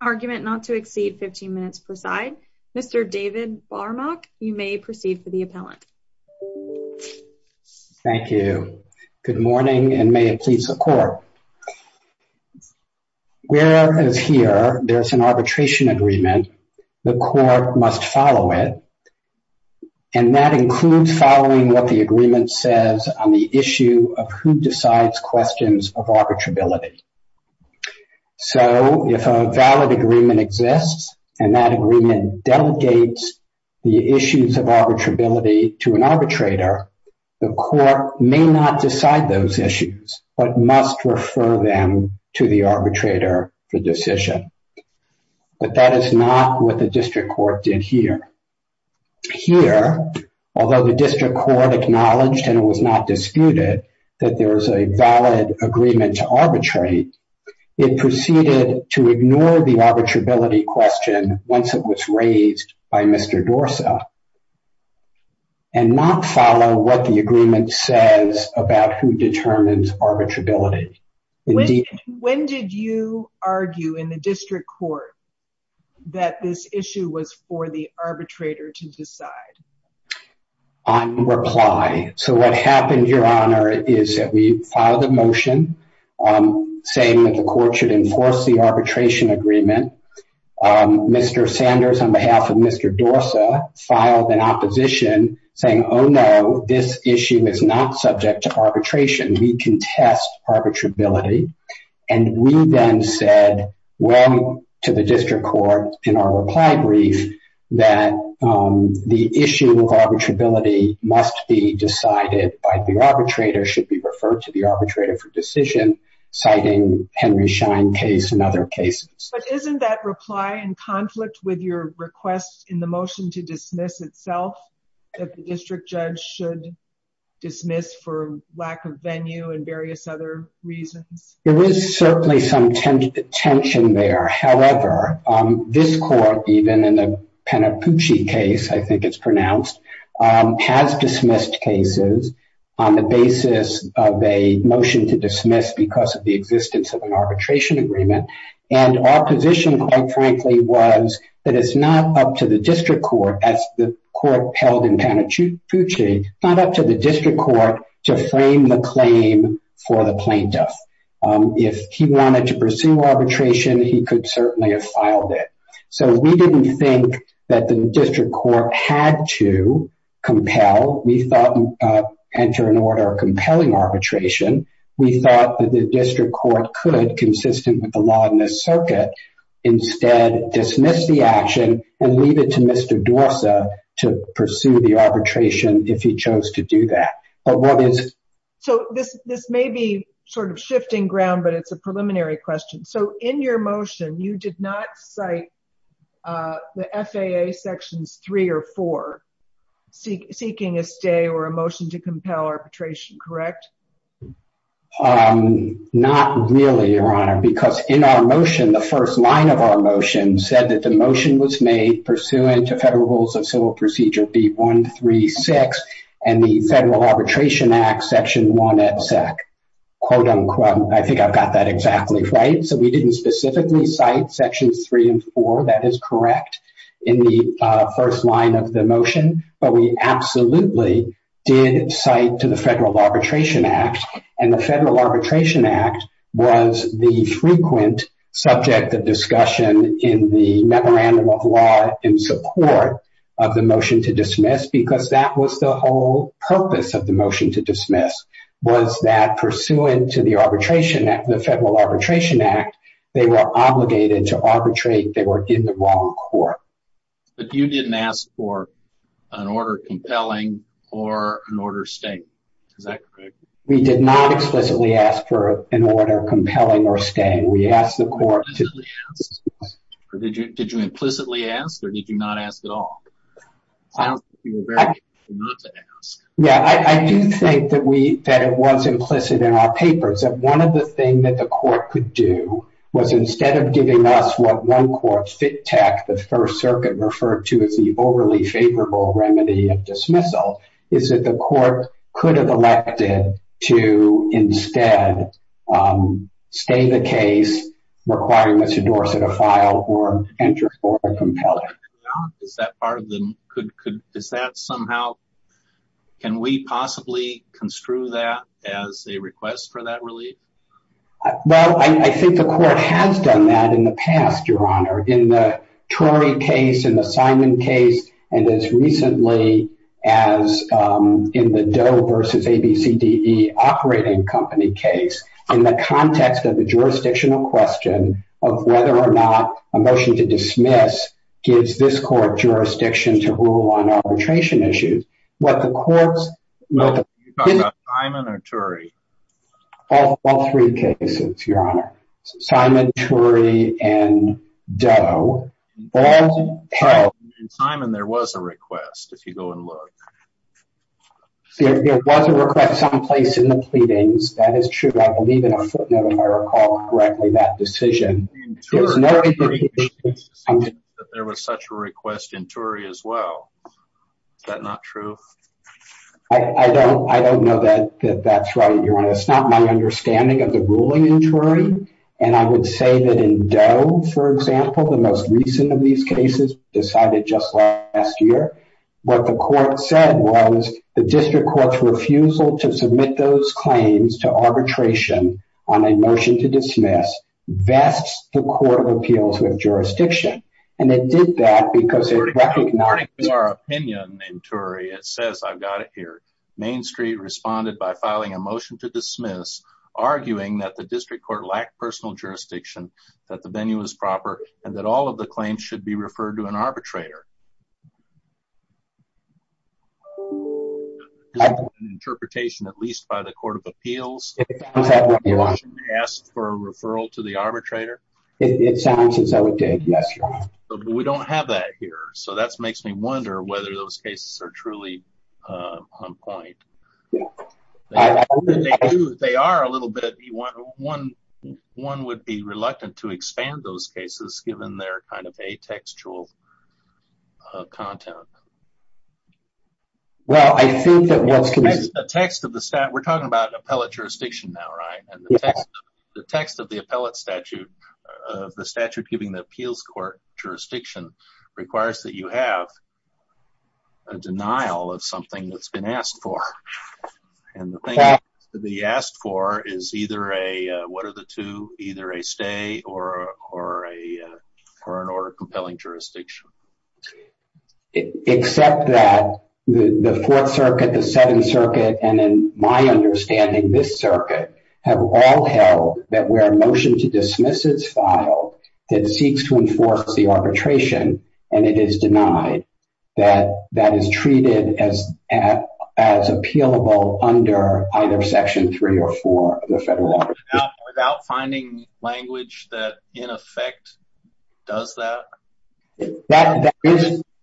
argument not to exceed 15 minutes per side. Mr. David Barmok, you may proceed for the appellant. Thank you. Good morning and may it please the court. Whereas here there's an arbitration agreement, the court must follow it. And may it please the court. And that includes following what the agreement says on the issue of who decides questions of arbitrability. So if a valid agreement exists, and that agreement delegates the issues of arbitrability to an arbitrator, the court may not decide those issues, but must refer them to the arbitrator for decision. But that is not what the district court did here. Here, although the district court acknowledged and it was not disputed that there was a valid agreement to arbitrate, it proceeded to ignore the arbitrability question once it was raised by Mr. Dorsa. And not follow what the agreement says about who determines arbitrability. When did you argue in the district court that this issue was for the arbitrator to decide? On reply. So what happened, Your Honor, is that we filed a motion saying that the court should enforce the arbitration agreement. Mr. Sanders, on behalf of Mr. Dorsa, filed an opposition saying, oh, no, this issue is not subject to arbitration. We contest arbitrability. And we then said, well, to the district court in our reply brief, that the issue of arbitrability must be decided by the arbitrator, should be referred to the arbitrator for decision, citing Henry Schein case and other cases. But isn't that reply in conflict with your request in the motion to dismiss itself? That the district judge should dismiss for lack of venue and various other reasons? There is certainly some tension there. However, this court, even in the Penapuchi case, I think it's pronounced, has dismissed cases on the basis of a motion to dismiss because of the existence of an arbitration agreement. And our position, quite frankly, was that it's not up to the district court, as the court held in Penapuchi, not up to the district court to frame the claim for the plaintiff. If he wanted to pursue arbitration, he could certainly have filed it. So we didn't think that the district court had to compel. We thought, enter an order of compelling arbitration. We thought that the district court could, consistent with the law in this circuit, instead dismiss the action and leave it to Mr. Dorsa to pursue the arbitration if he chose to do that. So this may be sort of shifting ground, but it's a preliminary question. So in your motion, you did not cite the FAA Sections 3 or 4 seeking a stay or a motion to compel arbitration, correct? Not really, Your Honor, because in our motion, the first line of our motion said that the motion was made pursuant to Federal Rules of Civil Procedure B-136 and the Federal Arbitration Act Section 1 et sec. I think I've got that exactly right. So we didn't specifically cite Sections 3 and 4. That is correct in the first line of the motion, but we absolutely did cite to the Federal Arbitration Act. And the Federal Arbitration Act was the frequent subject of discussion in the memorandum of law in support of the motion to dismiss because that was the whole purpose of the motion to dismiss, was that pursuant to the Federal Arbitration Act, they were obligated to arbitrate. They were in the wrong court. But you didn't ask for an order compelling or an order staying. Is that correct? We did not explicitly ask for an order compelling or staying. We asked the court to... Did you implicitly ask or did you not ask at all? Yeah, I do think that it was implicit in our papers. That one of the things that the court could do was instead of giving us what one court, FITTECH, the First Circuit referred to as the overly favorable remedy of dismissal, is that the court could have elected to instead stay the case requiring Mr. Dorsett to file or enter for a compelling. Is that part of the... Is that somehow... Can we possibly construe that as a request for that relief? Well, I think the court has done that in the past, Your Honor. In the Turi case, in the Simon case, and as recently as in the Doe versus ABCDE operating company case, in the context of the jurisdictional question of whether or not a motion to dismiss gives this court jurisdiction to rule on arbitration issues, what the courts... Are you talking about Simon or Turi? All three cases, Your Honor. Simon, Turi, and Doe. In Simon, there was a request, if you go and look. There was a request someplace in the pleadings. That is true. I believe in a footnote, if I recall correctly, that decision. There was such a request in Turi as well. Is that not true? I don't know that that's right, Your Honor. It's not my understanding of the ruling in Turi. And I would say that in Doe, for example, the most recent of these cases decided just last year, what the court said was the district court's refusal to submit those claims to arbitration on a motion to dismiss vests the court of appeals with jurisdiction. And it did that because it recognized... According to our opinion in Turi, it says, I've got it here. Main Street responded by filing a motion to dismiss, arguing that the district court lacked personal jurisdiction, that the venue was proper, and that all of the claims should be referred to an arbitrator. Is that an interpretation, at least by the court of appeals? It sounds that way, Your Honor. They asked for a referral to the arbitrator? It sounds as though it did, yes, Your Honor. But we don't have that here. So that makes me wonder whether those cases are truly on point. They are a little bit. One would be reluctant to expand those cases, given their kind of atextual content. We're talking about appellate jurisdiction now, right? And the text of the appellate statute, the statute giving the appeals court jurisdiction, requires that you have a denial of something that's been asked for. And the thing to be asked for is either a... What are the two? Either a stay or an order of compelling jurisdiction. Except that the Fourth Circuit, the Seventh Circuit, and in my understanding, this circuit, have all held that where a motion to dismiss is filed, it seeks to enforce the arbitration, and it is denied, that that is treated as appealable under either Section 3 or 4 of the federal law. Without finding language that, in effect, does that?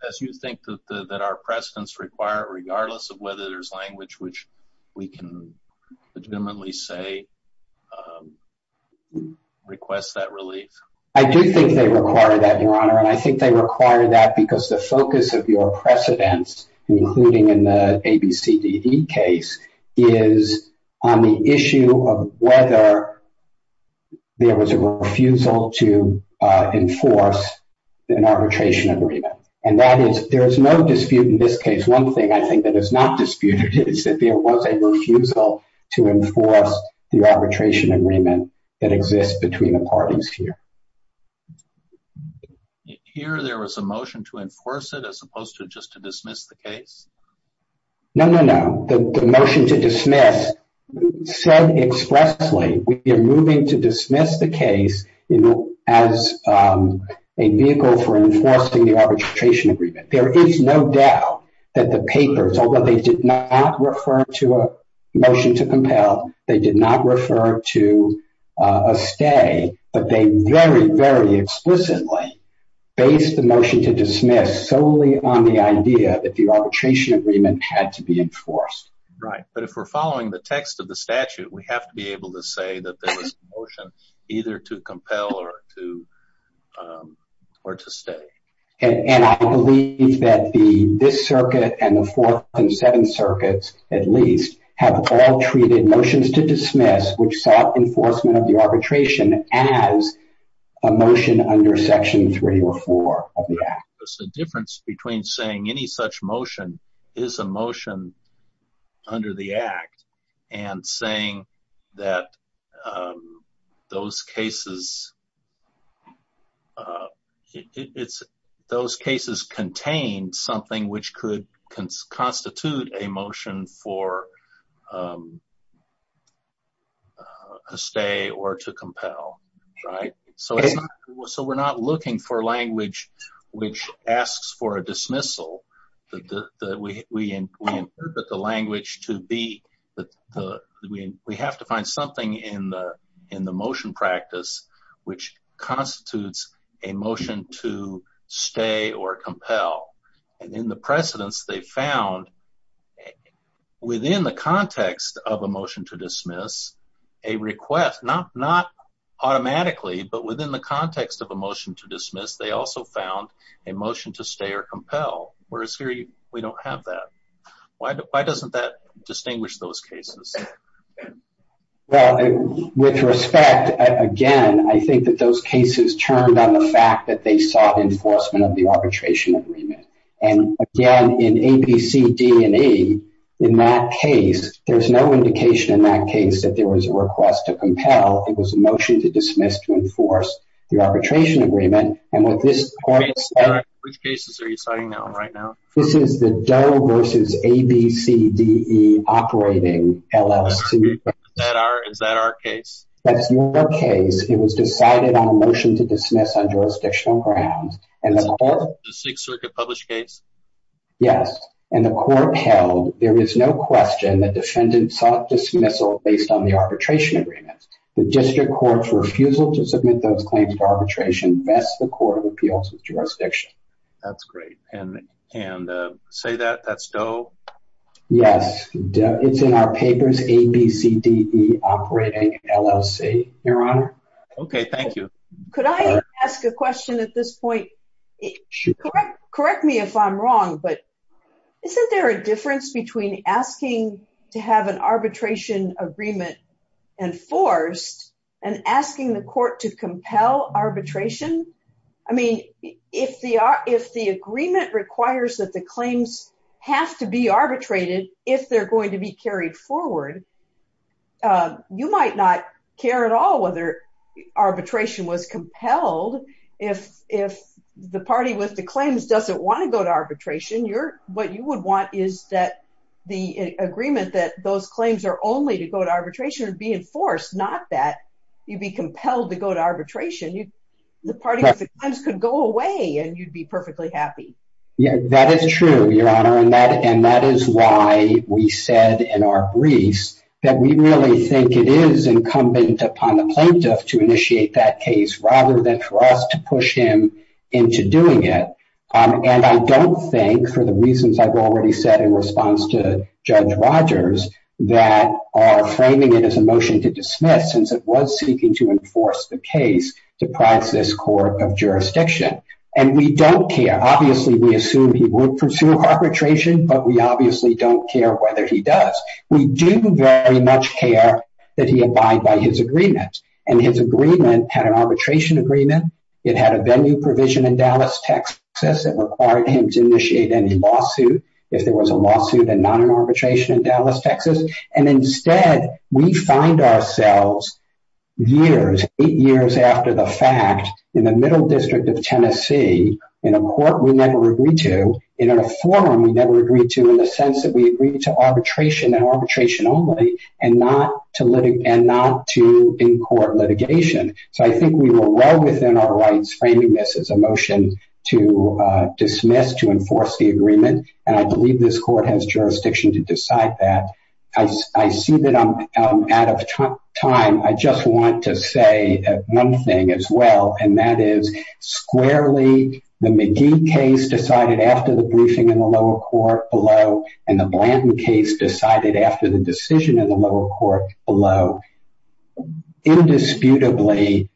As you think that our precedents require it, regardless of whether there's language which we can legitimately say requests that relief? I do think they require that, Your Honor. And I think they require that because the focus of your precedents, including in the ABCDD case, is on the issue of whether there was a refusal to enforce an arbitration agreement. And that is, there is no dispute in this case. One thing I think that is not disputed is that there was a refusal to enforce the arbitration agreement that exists between the parties here. Here, there was a motion to enforce it as opposed to just to dismiss the case? No, no, no. The motion to dismiss said expressly, we are moving to dismiss the case as a vehicle for enforcing the arbitration agreement. There is no doubt that the papers, although they did not refer to a motion to compel, they did not refer to a stay, but they very, very explicitly based the motion to dismiss solely on the idea that the arbitration agreement had to be enforced. Right. But if we're following the text of the statute, we have to be able to say that there was a motion either to compel or to stay. And I believe that this circuit and the fourth and seventh circuits, at least, have all treated motions to dismiss which sought enforcement of the arbitration as a motion under Section 3 or 4 of the Act. The difference between saying any such motion is a motion under the Act and saying that those cases contain something which could constitute a motion for a stay or to compel. So we're not looking for language which asks for a dismissal. We interpret the language to be that we have to find something in the motion practice which constitutes a motion to stay or compel. And in the precedence, they found within the context of a motion to dismiss a request, not automatically, but within the context of a motion to dismiss, they also found a motion to stay or compel. Whereas here, we don't have that. Why doesn't that distinguish those cases? Well, with respect, again, I think that those cases turned on the fact that they sought enforcement of the arbitration agreement. And again, in A, B, C, D, and E, in that case, there's no indication in that case that there was a request to compel. It was a motion to dismiss to enforce the arbitration agreement. Which cases are you citing right now? This is the Doe versus A, B, C, D, E operating LLC. Is that our case? That's your case. It was decided on a motion to dismiss on jurisdictional grounds. The Sixth Circuit published case? Yes. And the court held there is no question the defendant sought dismissal based on the arbitration agreement. The district court's refusal to submit those claims to arbitration vests the court of appeals with jurisdiction. That's great. And say that, that's Doe? Yes. It's in our papers, A, B, C, D, E operating LLC. Your Honor? Okay. Thank you. Could I ask a question at this point? Correct me if I'm wrong, but isn't there a difference between asking to have an arbitration agreement enforced and asking the court to compel arbitration? I mean, if the agreement requires that the claims have to be arbitrated if they're going to be carried forward, you might not care at all whether arbitration was compelled. If the party with the claims doesn't want to go to arbitration, what you would want is that the agreement that those claims are only to go to arbitration would be enforced, not that you'd be compelled to go to arbitration. The party with the claims could go away, and you'd be perfectly happy. Yeah, that is true, Your Honor, and that is why we said in our briefs that we really think it is incumbent upon the plaintiff to initiate that case rather than for us to push him into doing it. And I don't think, for the reasons I've already said in response to Judge Rogers, that our framing it as a motion to dismiss, since it was seeking to enforce the case, deprives this court of jurisdiction. And we don't care. Obviously, we assume he would pursue arbitration, but we obviously don't care whether he does. We do very much care that he abide by his agreement. And his agreement had an arbitration agreement. It had a venue provision in Dallas, Texas that required him to initiate any lawsuit, if there was a lawsuit and not an arbitration in Dallas, Texas. And instead, we find ourselves years, eight years after the fact, in the middle district of Tennessee, in a court we never agreed to, and in a forum we never agreed to, in the sense that we agreed to arbitration and arbitration only and not to in-court litigation. So I think we were well within our rights framing this as a motion to dismiss, to enforce the agreement. And I believe this court has jurisdiction to decide that. I see that I'm out of time. I just want to say one thing as well, and that is, squarely, the McGee case decided after the briefing in the lower court below, and the Blanton case decided after the decision in the lower court below. Indisputably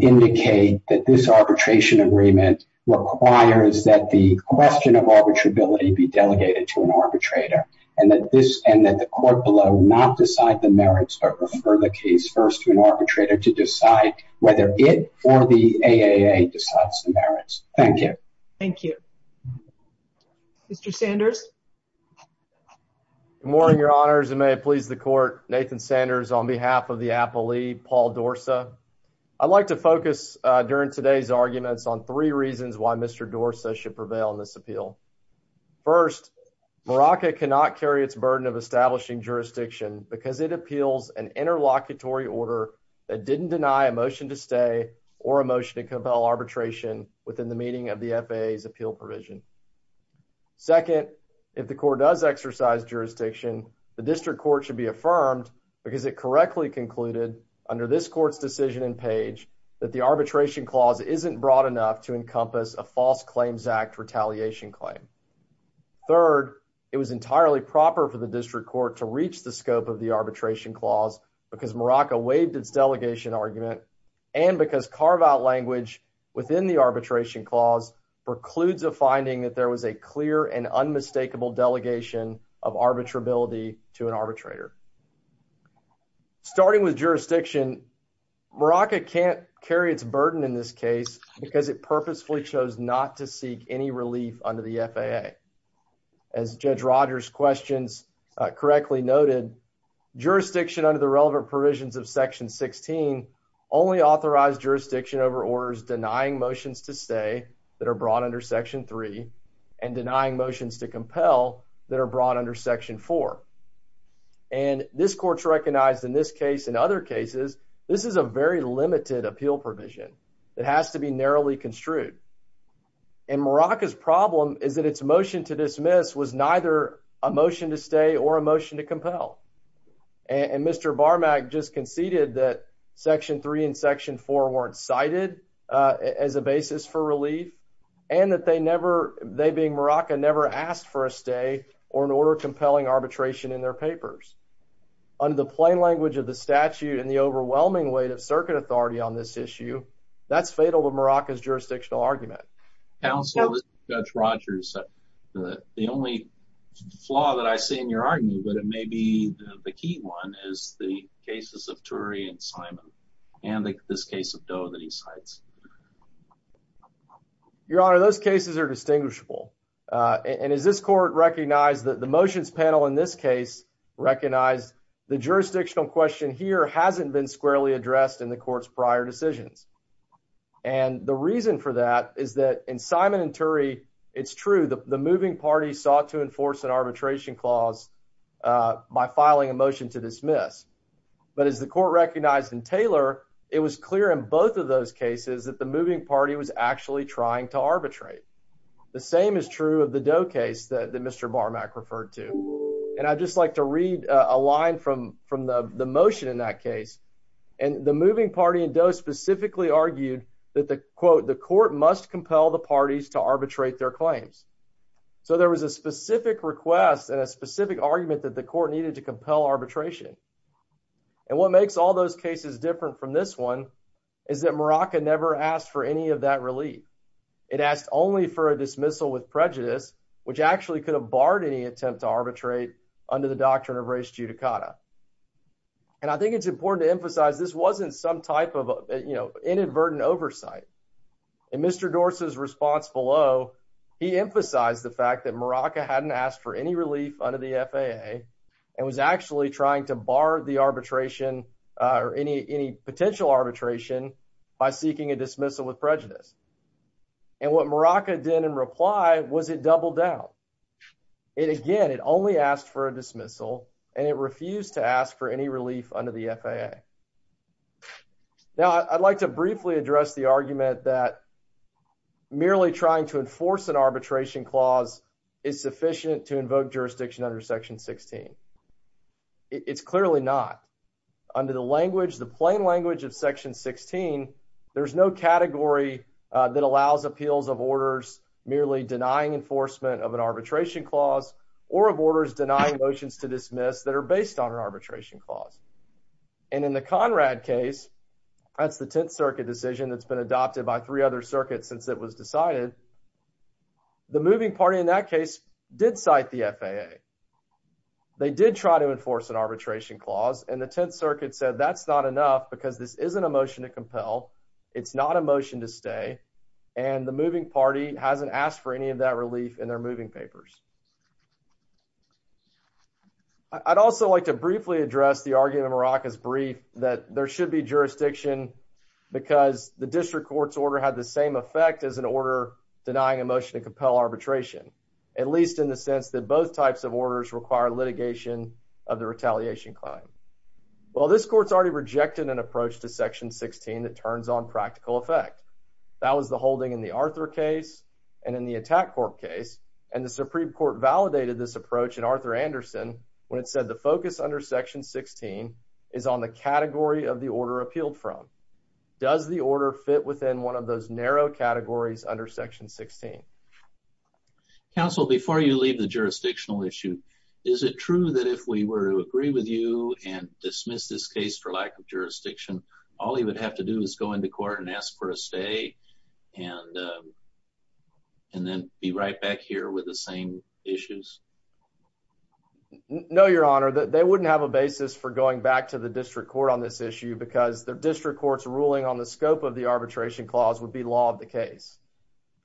indicate that this arbitration agreement requires that the question of arbitrability be delegated to an arbitrator, and that the court below not decide the merits but refer the case first to an arbitrator to decide whether it or the AAA decides the merits. Thank you. Thank you. Mr. Sanders? Good morning, Your Honors, and may it please the court. Nathan Sanders on behalf of the appellee, Paul Dorsa. I'd like to focus during today's arguments on three reasons why Mr. Dorsa should prevail in this appeal. First, Maraca cannot carry its burden of establishing jurisdiction because it appeals an interlocutory order that didn't deny a motion to stay or a motion to compel arbitration within the meaning of the FAA's appeal provision. Second, if the court does exercise jurisdiction, the district court should be affirmed because it correctly concluded under this court's decision in Page that the arbitration clause isn't broad enough to encompass a false claims act retaliation claim. Third, it was entirely proper for the district court to reach the scope of the arbitration clause because Maraca waived its delegation argument and because carve-out language within the arbitration clause precludes a finding that there was a clear and unmistakable delegation of arbitrability to an arbitrator. Starting with jurisdiction, Maraca can't carry its burden in this case because it purposefully chose not to seek any relief under the FAA. As Judge Rogers' questions correctly noted, jurisdiction under the relevant provisions of Section 16 only authorized jurisdiction over orders denying motions to stay that are brought under Section 3 and denying motions to compel that are brought under Section 4. And this court's recognized in this case and other cases, this is a very limited appeal provision that has to be narrowly construed. And Maraca's problem is that its motion to dismiss was neither a motion to stay or a motion to compel. And Mr. Barmak just conceded that Section 3 and Section 4 weren't cited as a basis for relief and that they never, they being Maraca, never asked for a stay or an order compelling arbitration in their papers. Under the plain language of the statute and the overwhelming weight of circuit authority on this issue, that's fatal to Maraca's jurisdictional argument. Counsel, this is Judge Rogers. The only flaw that I see in your argument, but it may be the key one, is the cases of Turi and Simon and this case of Doe that he cites. Your Honor, those cases are distinguishable. And as this court recognized that the motions panel in this case recognized the jurisdictional question here hasn't been squarely addressed in the court's prior decisions. And the reason for that is that in Simon and Turi, it's true that the moving party sought to enforce an arbitration clause by filing a motion to dismiss. But as the court recognized in Taylor, it was clear in both of those cases that the moving party was actually trying to arbitrate. The same is true of the Doe case that Mr. Barmak referred to. And I'd just like to read a line from the motion in that case. And the moving party in Doe specifically argued that the quote, the court must compel the parties to arbitrate their claims. So there was a specific request and a specific argument that the court needed to compel arbitration. And what makes all those cases different from this one is that Morocco never asked for any of that relief. It asked only for a dismissal with prejudice, which actually could have barred any attempt to arbitrate under the doctrine of res judicata. And I think it's important to emphasize this wasn't some type of inadvertent oversight. In Mr. Dorsey's response below, he emphasized the fact that Morocco hadn't asked for any relief under the FAA and was actually trying to bar the arbitration or any any potential arbitration by seeking a dismissal with prejudice. And what Morocco did in reply was it doubled down. And again, it only asked for a dismissal and it refused to ask for any relief under the FAA. Now, I'd like to briefly address the argument that merely trying to enforce an arbitration clause is sufficient to invoke jurisdiction under Section 16. It's clearly not under the language, the plain language of Section 16. There's no category that allows appeals of orders merely denying enforcement of an arbitration clause or of orders denying motions to dismiss that are based on an arbitration clause. And in the Conrad case, that's the Tenth Circuit decision that's been adopted by three other circuits since it was decided. The moving party in that case did cite the FAA. They did try to enforce an arbitration clause and the Tenth Circuit said that's not enough because this isn't a motion to compel. It's not a motion to stay. And the moving party hasn't asked for any of that relief in their moving papers. I'd also like to briefly address the argument in Morocco's brief that there should be jurisdiction because the district court's order had the same effect as an order denying a motion to compel arbitration, at least in the sense that both types of orders require litigation of the retaliation claim. Well, this court's already rejected an approach to Section 16 that turns on practical effect. That was the holding in the Arthur case and in the attack court case. And the Supreme Court validated this approach in Arthur Anderson when it said the focus under Section 16 is on the category of the order appealed from. Does the order fit within one of those narrow categories under Section 16? Counsel, before you leave the jurisdictional issue, is it true that if we were to agree with you and dismiss this case for lack of jurisdiction, all you would have to do is go into court and ask for a stay and then be right back here with the same issues? No, Your Honor, they wouldn't have a basis for going back to the district court on this issue because the district court's ruling on the scope of the arbitration clause would be law of the case.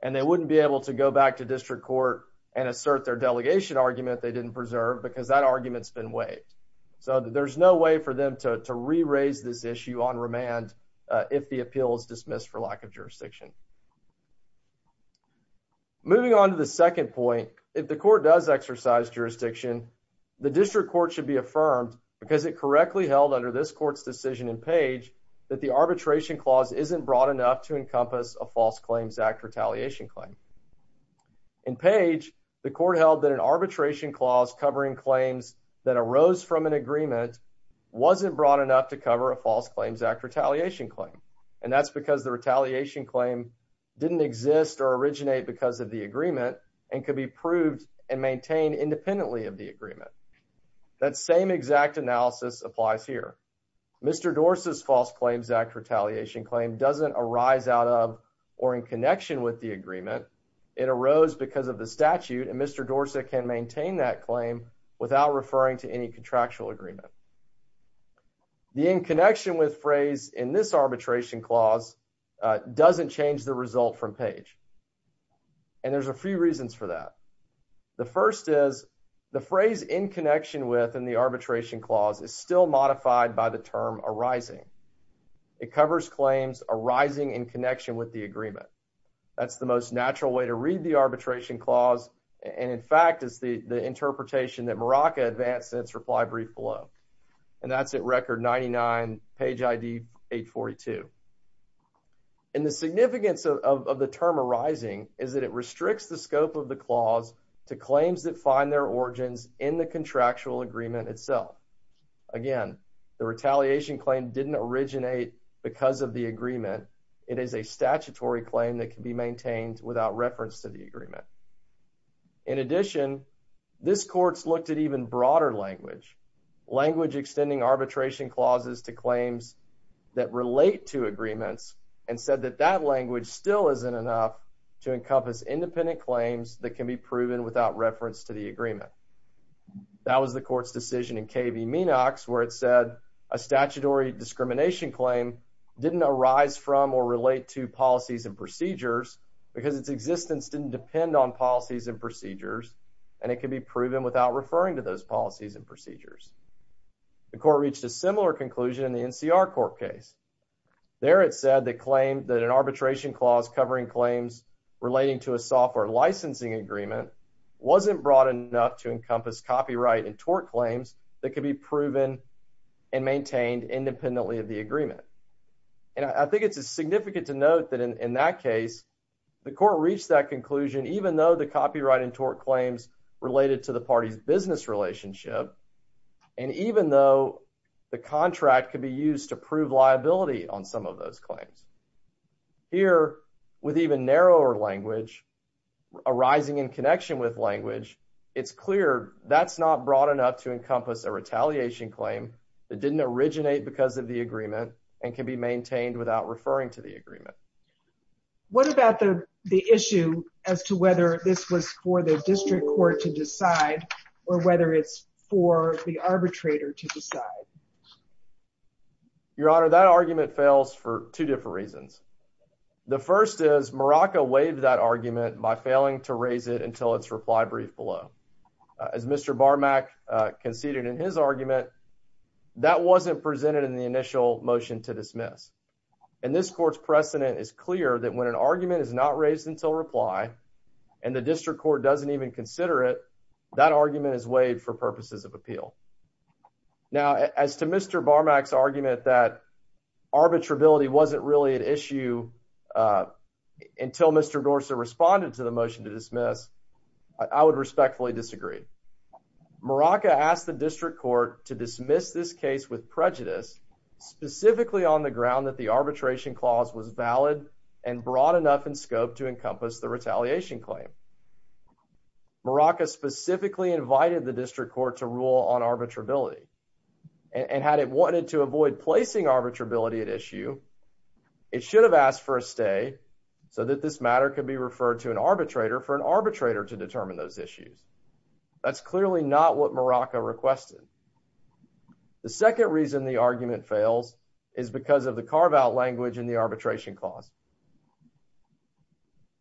And they wouldn't be able to go back to district court and assert their delegation argument they didn't preserve because that argument's been waived. So there's no way for them to re-raise this issue on remand if the appeal is dismissed for lack of jurisdiction. Moving on to the second point, if the court does exercise jurisdiction, the district court should be affirmed, because it correctly held under this court's decision in Page, that the arbitration clause isn't broad enough to encompass a False Claims Act retaliation claim. In Page, the court held that an arbitration clause covering claims that arose from an agreement wasn't broad enough to cover a False Claims Act retaliation claim. And that's because the retaliation claim didn't exist or originate because of the agreement and could be proved and maintained independently of the agreement. That same exact analysis applies here. Mr. Dorsey's False Claims Act retaliation claim doesn't arise out of or in connection with the agreement. It arose because of the statute and Mr. Dorsey can maintain that claim without referring to any contractual agreement. The in connection with phrase in this arbitration clause doesn't change the result from Page. And there's a few reasons for that. The first is the phrase in connection with in the arbitration clause is still modified by the term arising. It covers claims arising in connection with the agreement. That's the most natural way to read the arbitration clause. And in fact, is the interpretation that Morocco advanced its reply brief below. And that's at record 99 page ID 842. And the significance of the term arising is that it restricts the scope of the clause to claims that find their origins in the contractual agreement itself. Again, the retaliation claim didn't originate because of the agreement. It is a statutory claim that can be maintained without reference to the agreement. In addition, this court's looked at even broader language, language extending arbitration clauses to claims that relate to agreements. And said that that language still isn't enough to encompass independent claims that can be proven without reference to the agreement. That was the court's decision in KV Minox, where it said a statutory discrimination claim didn't arise from or relate to policies and procedures because its existence didn't depend on policies and procedures. And it can be proven without referring to those policies and procedures. The court reached a similar conclusion in the NCR court case. There, it said the claim that an arbitration clause covering claims relating to a software licensing agreement wasn't broad enough to encompass copyright and tort claims that can be proven and maintained independently of the agreement. And I think it's significant to note that in that case, the court reached that conclusion, even though the copyright and tort claims related to the party's business relationship. And even though the contract could be used to prove liability on some of those claims. Here, with even narrower language arising in connection with language, it's clear that's not broad enough to encompass a retaliation claim that didn't originate because of the agreement and can be maintained without referring to the agreement. What about the issue as to whether this was for the district court to decide or whether it's for the arbitrator to decide? Your Honor, that argument fails for two different reasons. The first is Morocco waived that argument by failing to raise it until its reply brief below. As Mr. Barmack conceded in his argument, that wasn't presented in the initial motion to dismiss. And this court's precedent is clear that when an argument is not raised until reply, and the district court doesn't even consider it, that argument is waived for purposes of appeal. Now, as to Mr. Barmack's argument that arbitrability wasn't really an issue until Mr. Gorsuch responded to the motion to dismiss, I would respectfully disagree. Morocco asked the district court to dismiss this case with prejudice, specifically on the ground that the arbitration clause was valid and broad enough in scope to encompass the retaliation claim. Morocco specifically invited the district court to rule on arbitrability. And had it wanted to avoid placing arbitrability at issue, it should have asked for a stay so that this matter could be referred to an arbitrator for an arbitrator to determine those issues. That's clearly not what Morocco requested. The second reason the argument fails is because of the carve-out language in the arbitration clause.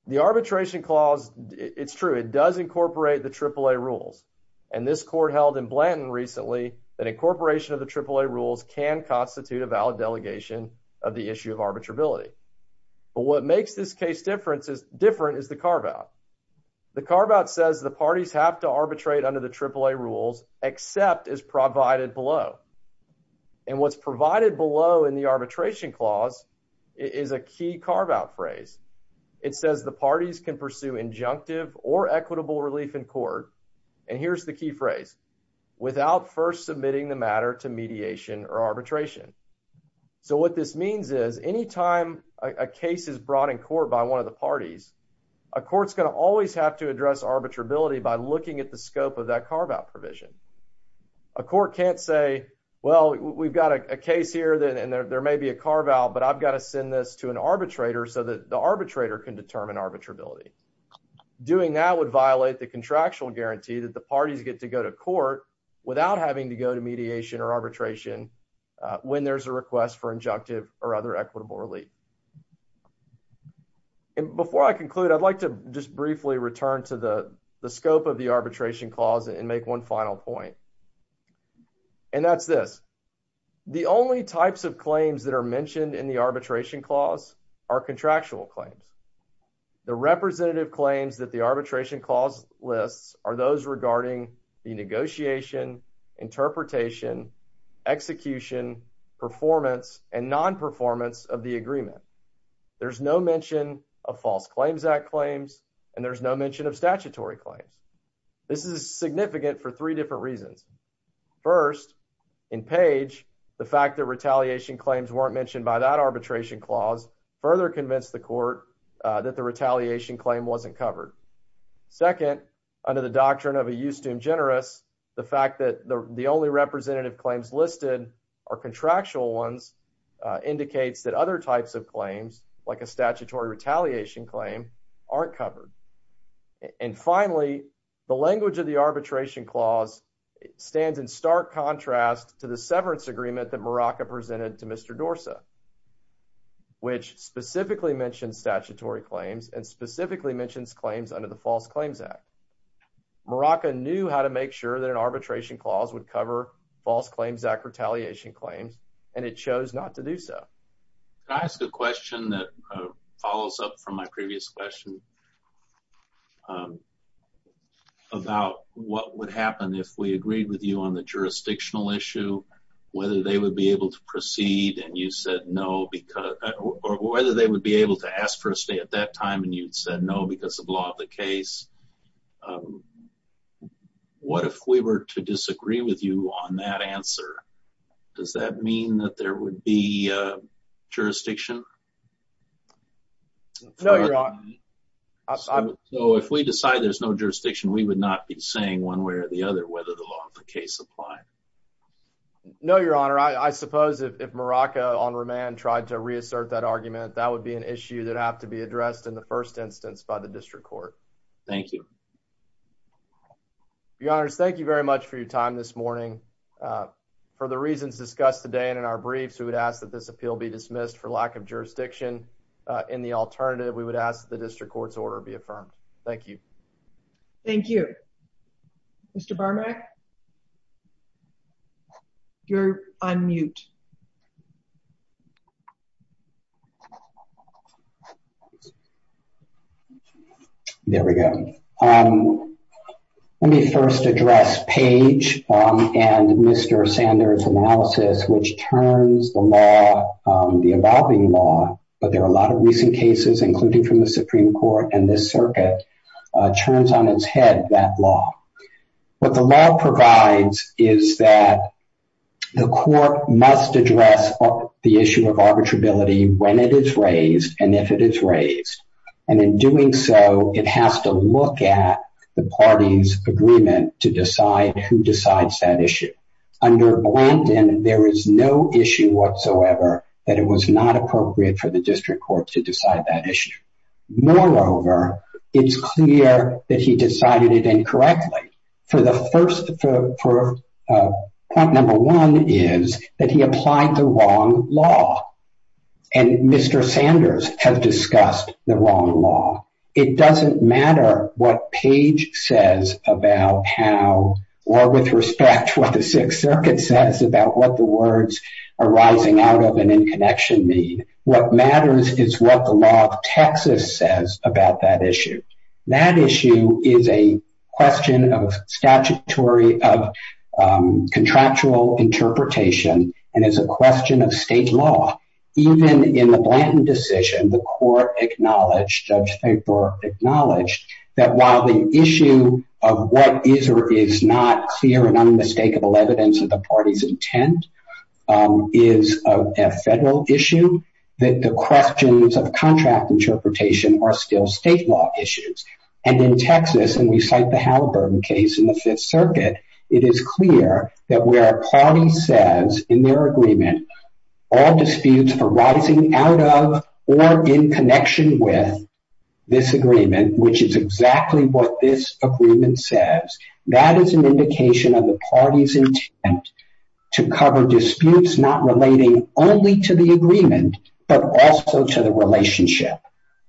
The arbitration clause, it's true, it does incorporate the AAA rules. And this court held in Blanton recently that incorporation of the AAA rules can constitute a valid delegation of the issue of arbitrability. But what makes this case different is the carve-out. The carve-out says the parties have to arbitrate under the AAA rules except as provided below. And what's provided below in the arbitration clause is a key carve-out phrase. It says the parties can pursue injunctive or equitable relief in court, and here's the key phrase, without first submitting the matter to mediation or arbitration. So what this means is any time a case is brought in court by one of the parties, a court's going to always have to address arbitrability by looking at the scope of that carve-out provision. A court can't say, well, we've got a case here, and there may be a carve-out, but I've got to send this to an arbitrator so that the arbitrator can determine arbitrability. Doing that would violate the contractual guarantee that the parties get to go to court without having to go to mediation or arbitration when there's a request for injunctive or other equitable relief. And before I conclude, I'd like to just briefly return to the scope of the arbitration clause and make one final point. And that's this. The only types of claims that are mentioned in the arbitration clause are contractual claims. The representative claims that the arbitration clause lists are those regarding the negotiation, interpretation, execution, performance, and non-performance of the agreement. There's no mention of False Claims Act claims, and there's no mention of statutory claims. This is significant for three different reasons. First, in Page, the fact that retaliation claims weren't mentioned by that arbitration clause further convinced the court that the retaliation claim wasn't covered. Second, under the doctrine of a justum generis, the fact that the only representative claims listed are contractual ones indicates that other types of claims, like a statutory retaliation claim, aren't covered. And finally, the language of the arbitration clause stands in stark contrast to the severance agreement that Morocco presented to Mr. Dorsa, which specifically mentioned statutory claims and specifically mentions claims under the False Claims Act. Morocco knew how to make sure that an arbitration clause would cover False Claims Act retaliation claims, and it chose not to do so. Can I ask a question that follows up from my previous question about what would happen if we agreed with you on the jurisdictional issue, whether they would be able to ask for a stay at that time and you'd said no because of law of the case? What if we were to disagree with you on that answer? Does that mean that there would be jurisdiction? No, Your Honor. So if we decide there's no jurisdiction, we would not be saying one way or the other whether the law of the case applied? No, Your Honor. I suppose if Morocco on remand tried to reassert that argument, that would be an issue that would have to be addressed in the first instance by the district court. Thank you, Your Honor. Thank you very much for your time this morning for the reasons discussed today. And in our briefs, we would ask that this appeal be dismissed for lack of jurisdiction. In the alternative, we would ask the district court's order be affirmed. Thank you. Thank you, Mr. Barmack. You're on mute. There we go. Let me first address Paige and Mr. Sanders' analysis, which turns the law, the evolving law, but there are a lot of recent cases, including from the Supreme Court and this circuit, turns on its head that law. What the law provides is that the court must address the issue of arbitrability when it is raised and if it is raised. And in doing so, it has to look at the party's agreement to decide who decides that issue. Under Blanton, there is no issue whatsoever that it was not appropriate for the district court to decide that issue. Moreover, it's clear that he decided it incorrectly. Point number one is that he applied the wrong law. And Mr. Sanders has discussed the wrong law. It doesn't matter what Paige says about how or with respect to what the Sixth Circuit says about what the words arising out of an in-connection mean. What matters is what the law of Texas says about that issue. That issue is a question of statutory, of contractual interpretation, and it's a question of state law. Even in the Blanton decision, the court acknowledged, Judge Finkberg acknowledged, that while the issue of what is or is not clear and unmistakable evidence of the party's intent is a federal issue, that the questions of contract interpretation are still state law issues. And in Texas, and we cite the Halliburton case in the Fifth Circuit, it is clear that where a party says in their agreement all disputes arising out of or in connection with this agreement, which is exactly what this agreement says, that is an indication of the party's intent to cover disputes not relating only to the agreement, but also to the relationship.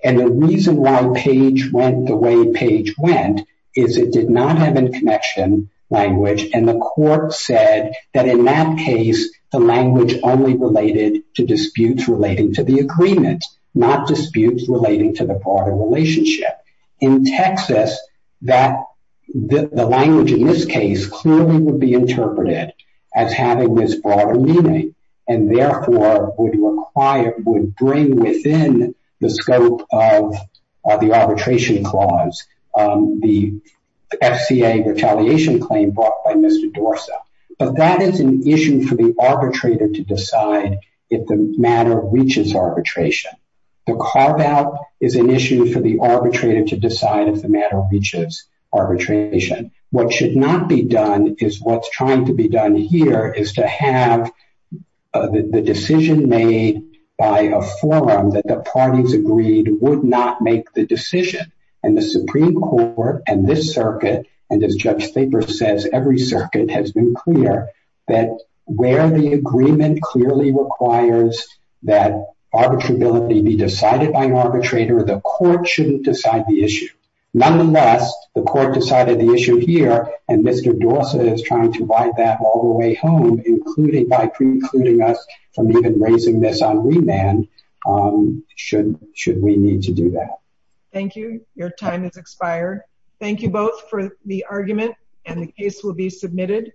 And the reason why Paige went the way Paige went is it did not have in-connection language, and the court said that in that case, the language only related to disputes relating to the agreement, not disputes relating to the party relationship. In Texas, the language in this case clearly would be interpreted as having this broader meaning, and therefore would require, would bring within the scope of the arbitration clause the FCA retaliation claim brought by Mr. Dorsa. But that is an issue for the arbitrator to decide if the matter reaches arbitration. The carve-out is an issue for the arbitrator to decide if the matter reaches arbitration. What should not be done is what's trying to be done here, is to have the decision made by a forum that the parties agreed would not make the decision. And the Supreme Court and this circuit, and as Judge Thaper says, every circuit has been clear that where the agreement clearly requires that arbitrability be decided by an arbitrator, the court shouldn't decide the issue. Nonetheless, the court decided the issue here, and Mr. Dorsa is trying to ride that all the way home by precluding us from even raising this on remand should we need to do that. Thank you. Your time has expired. Thank you both for the argument, and the case will be submitted.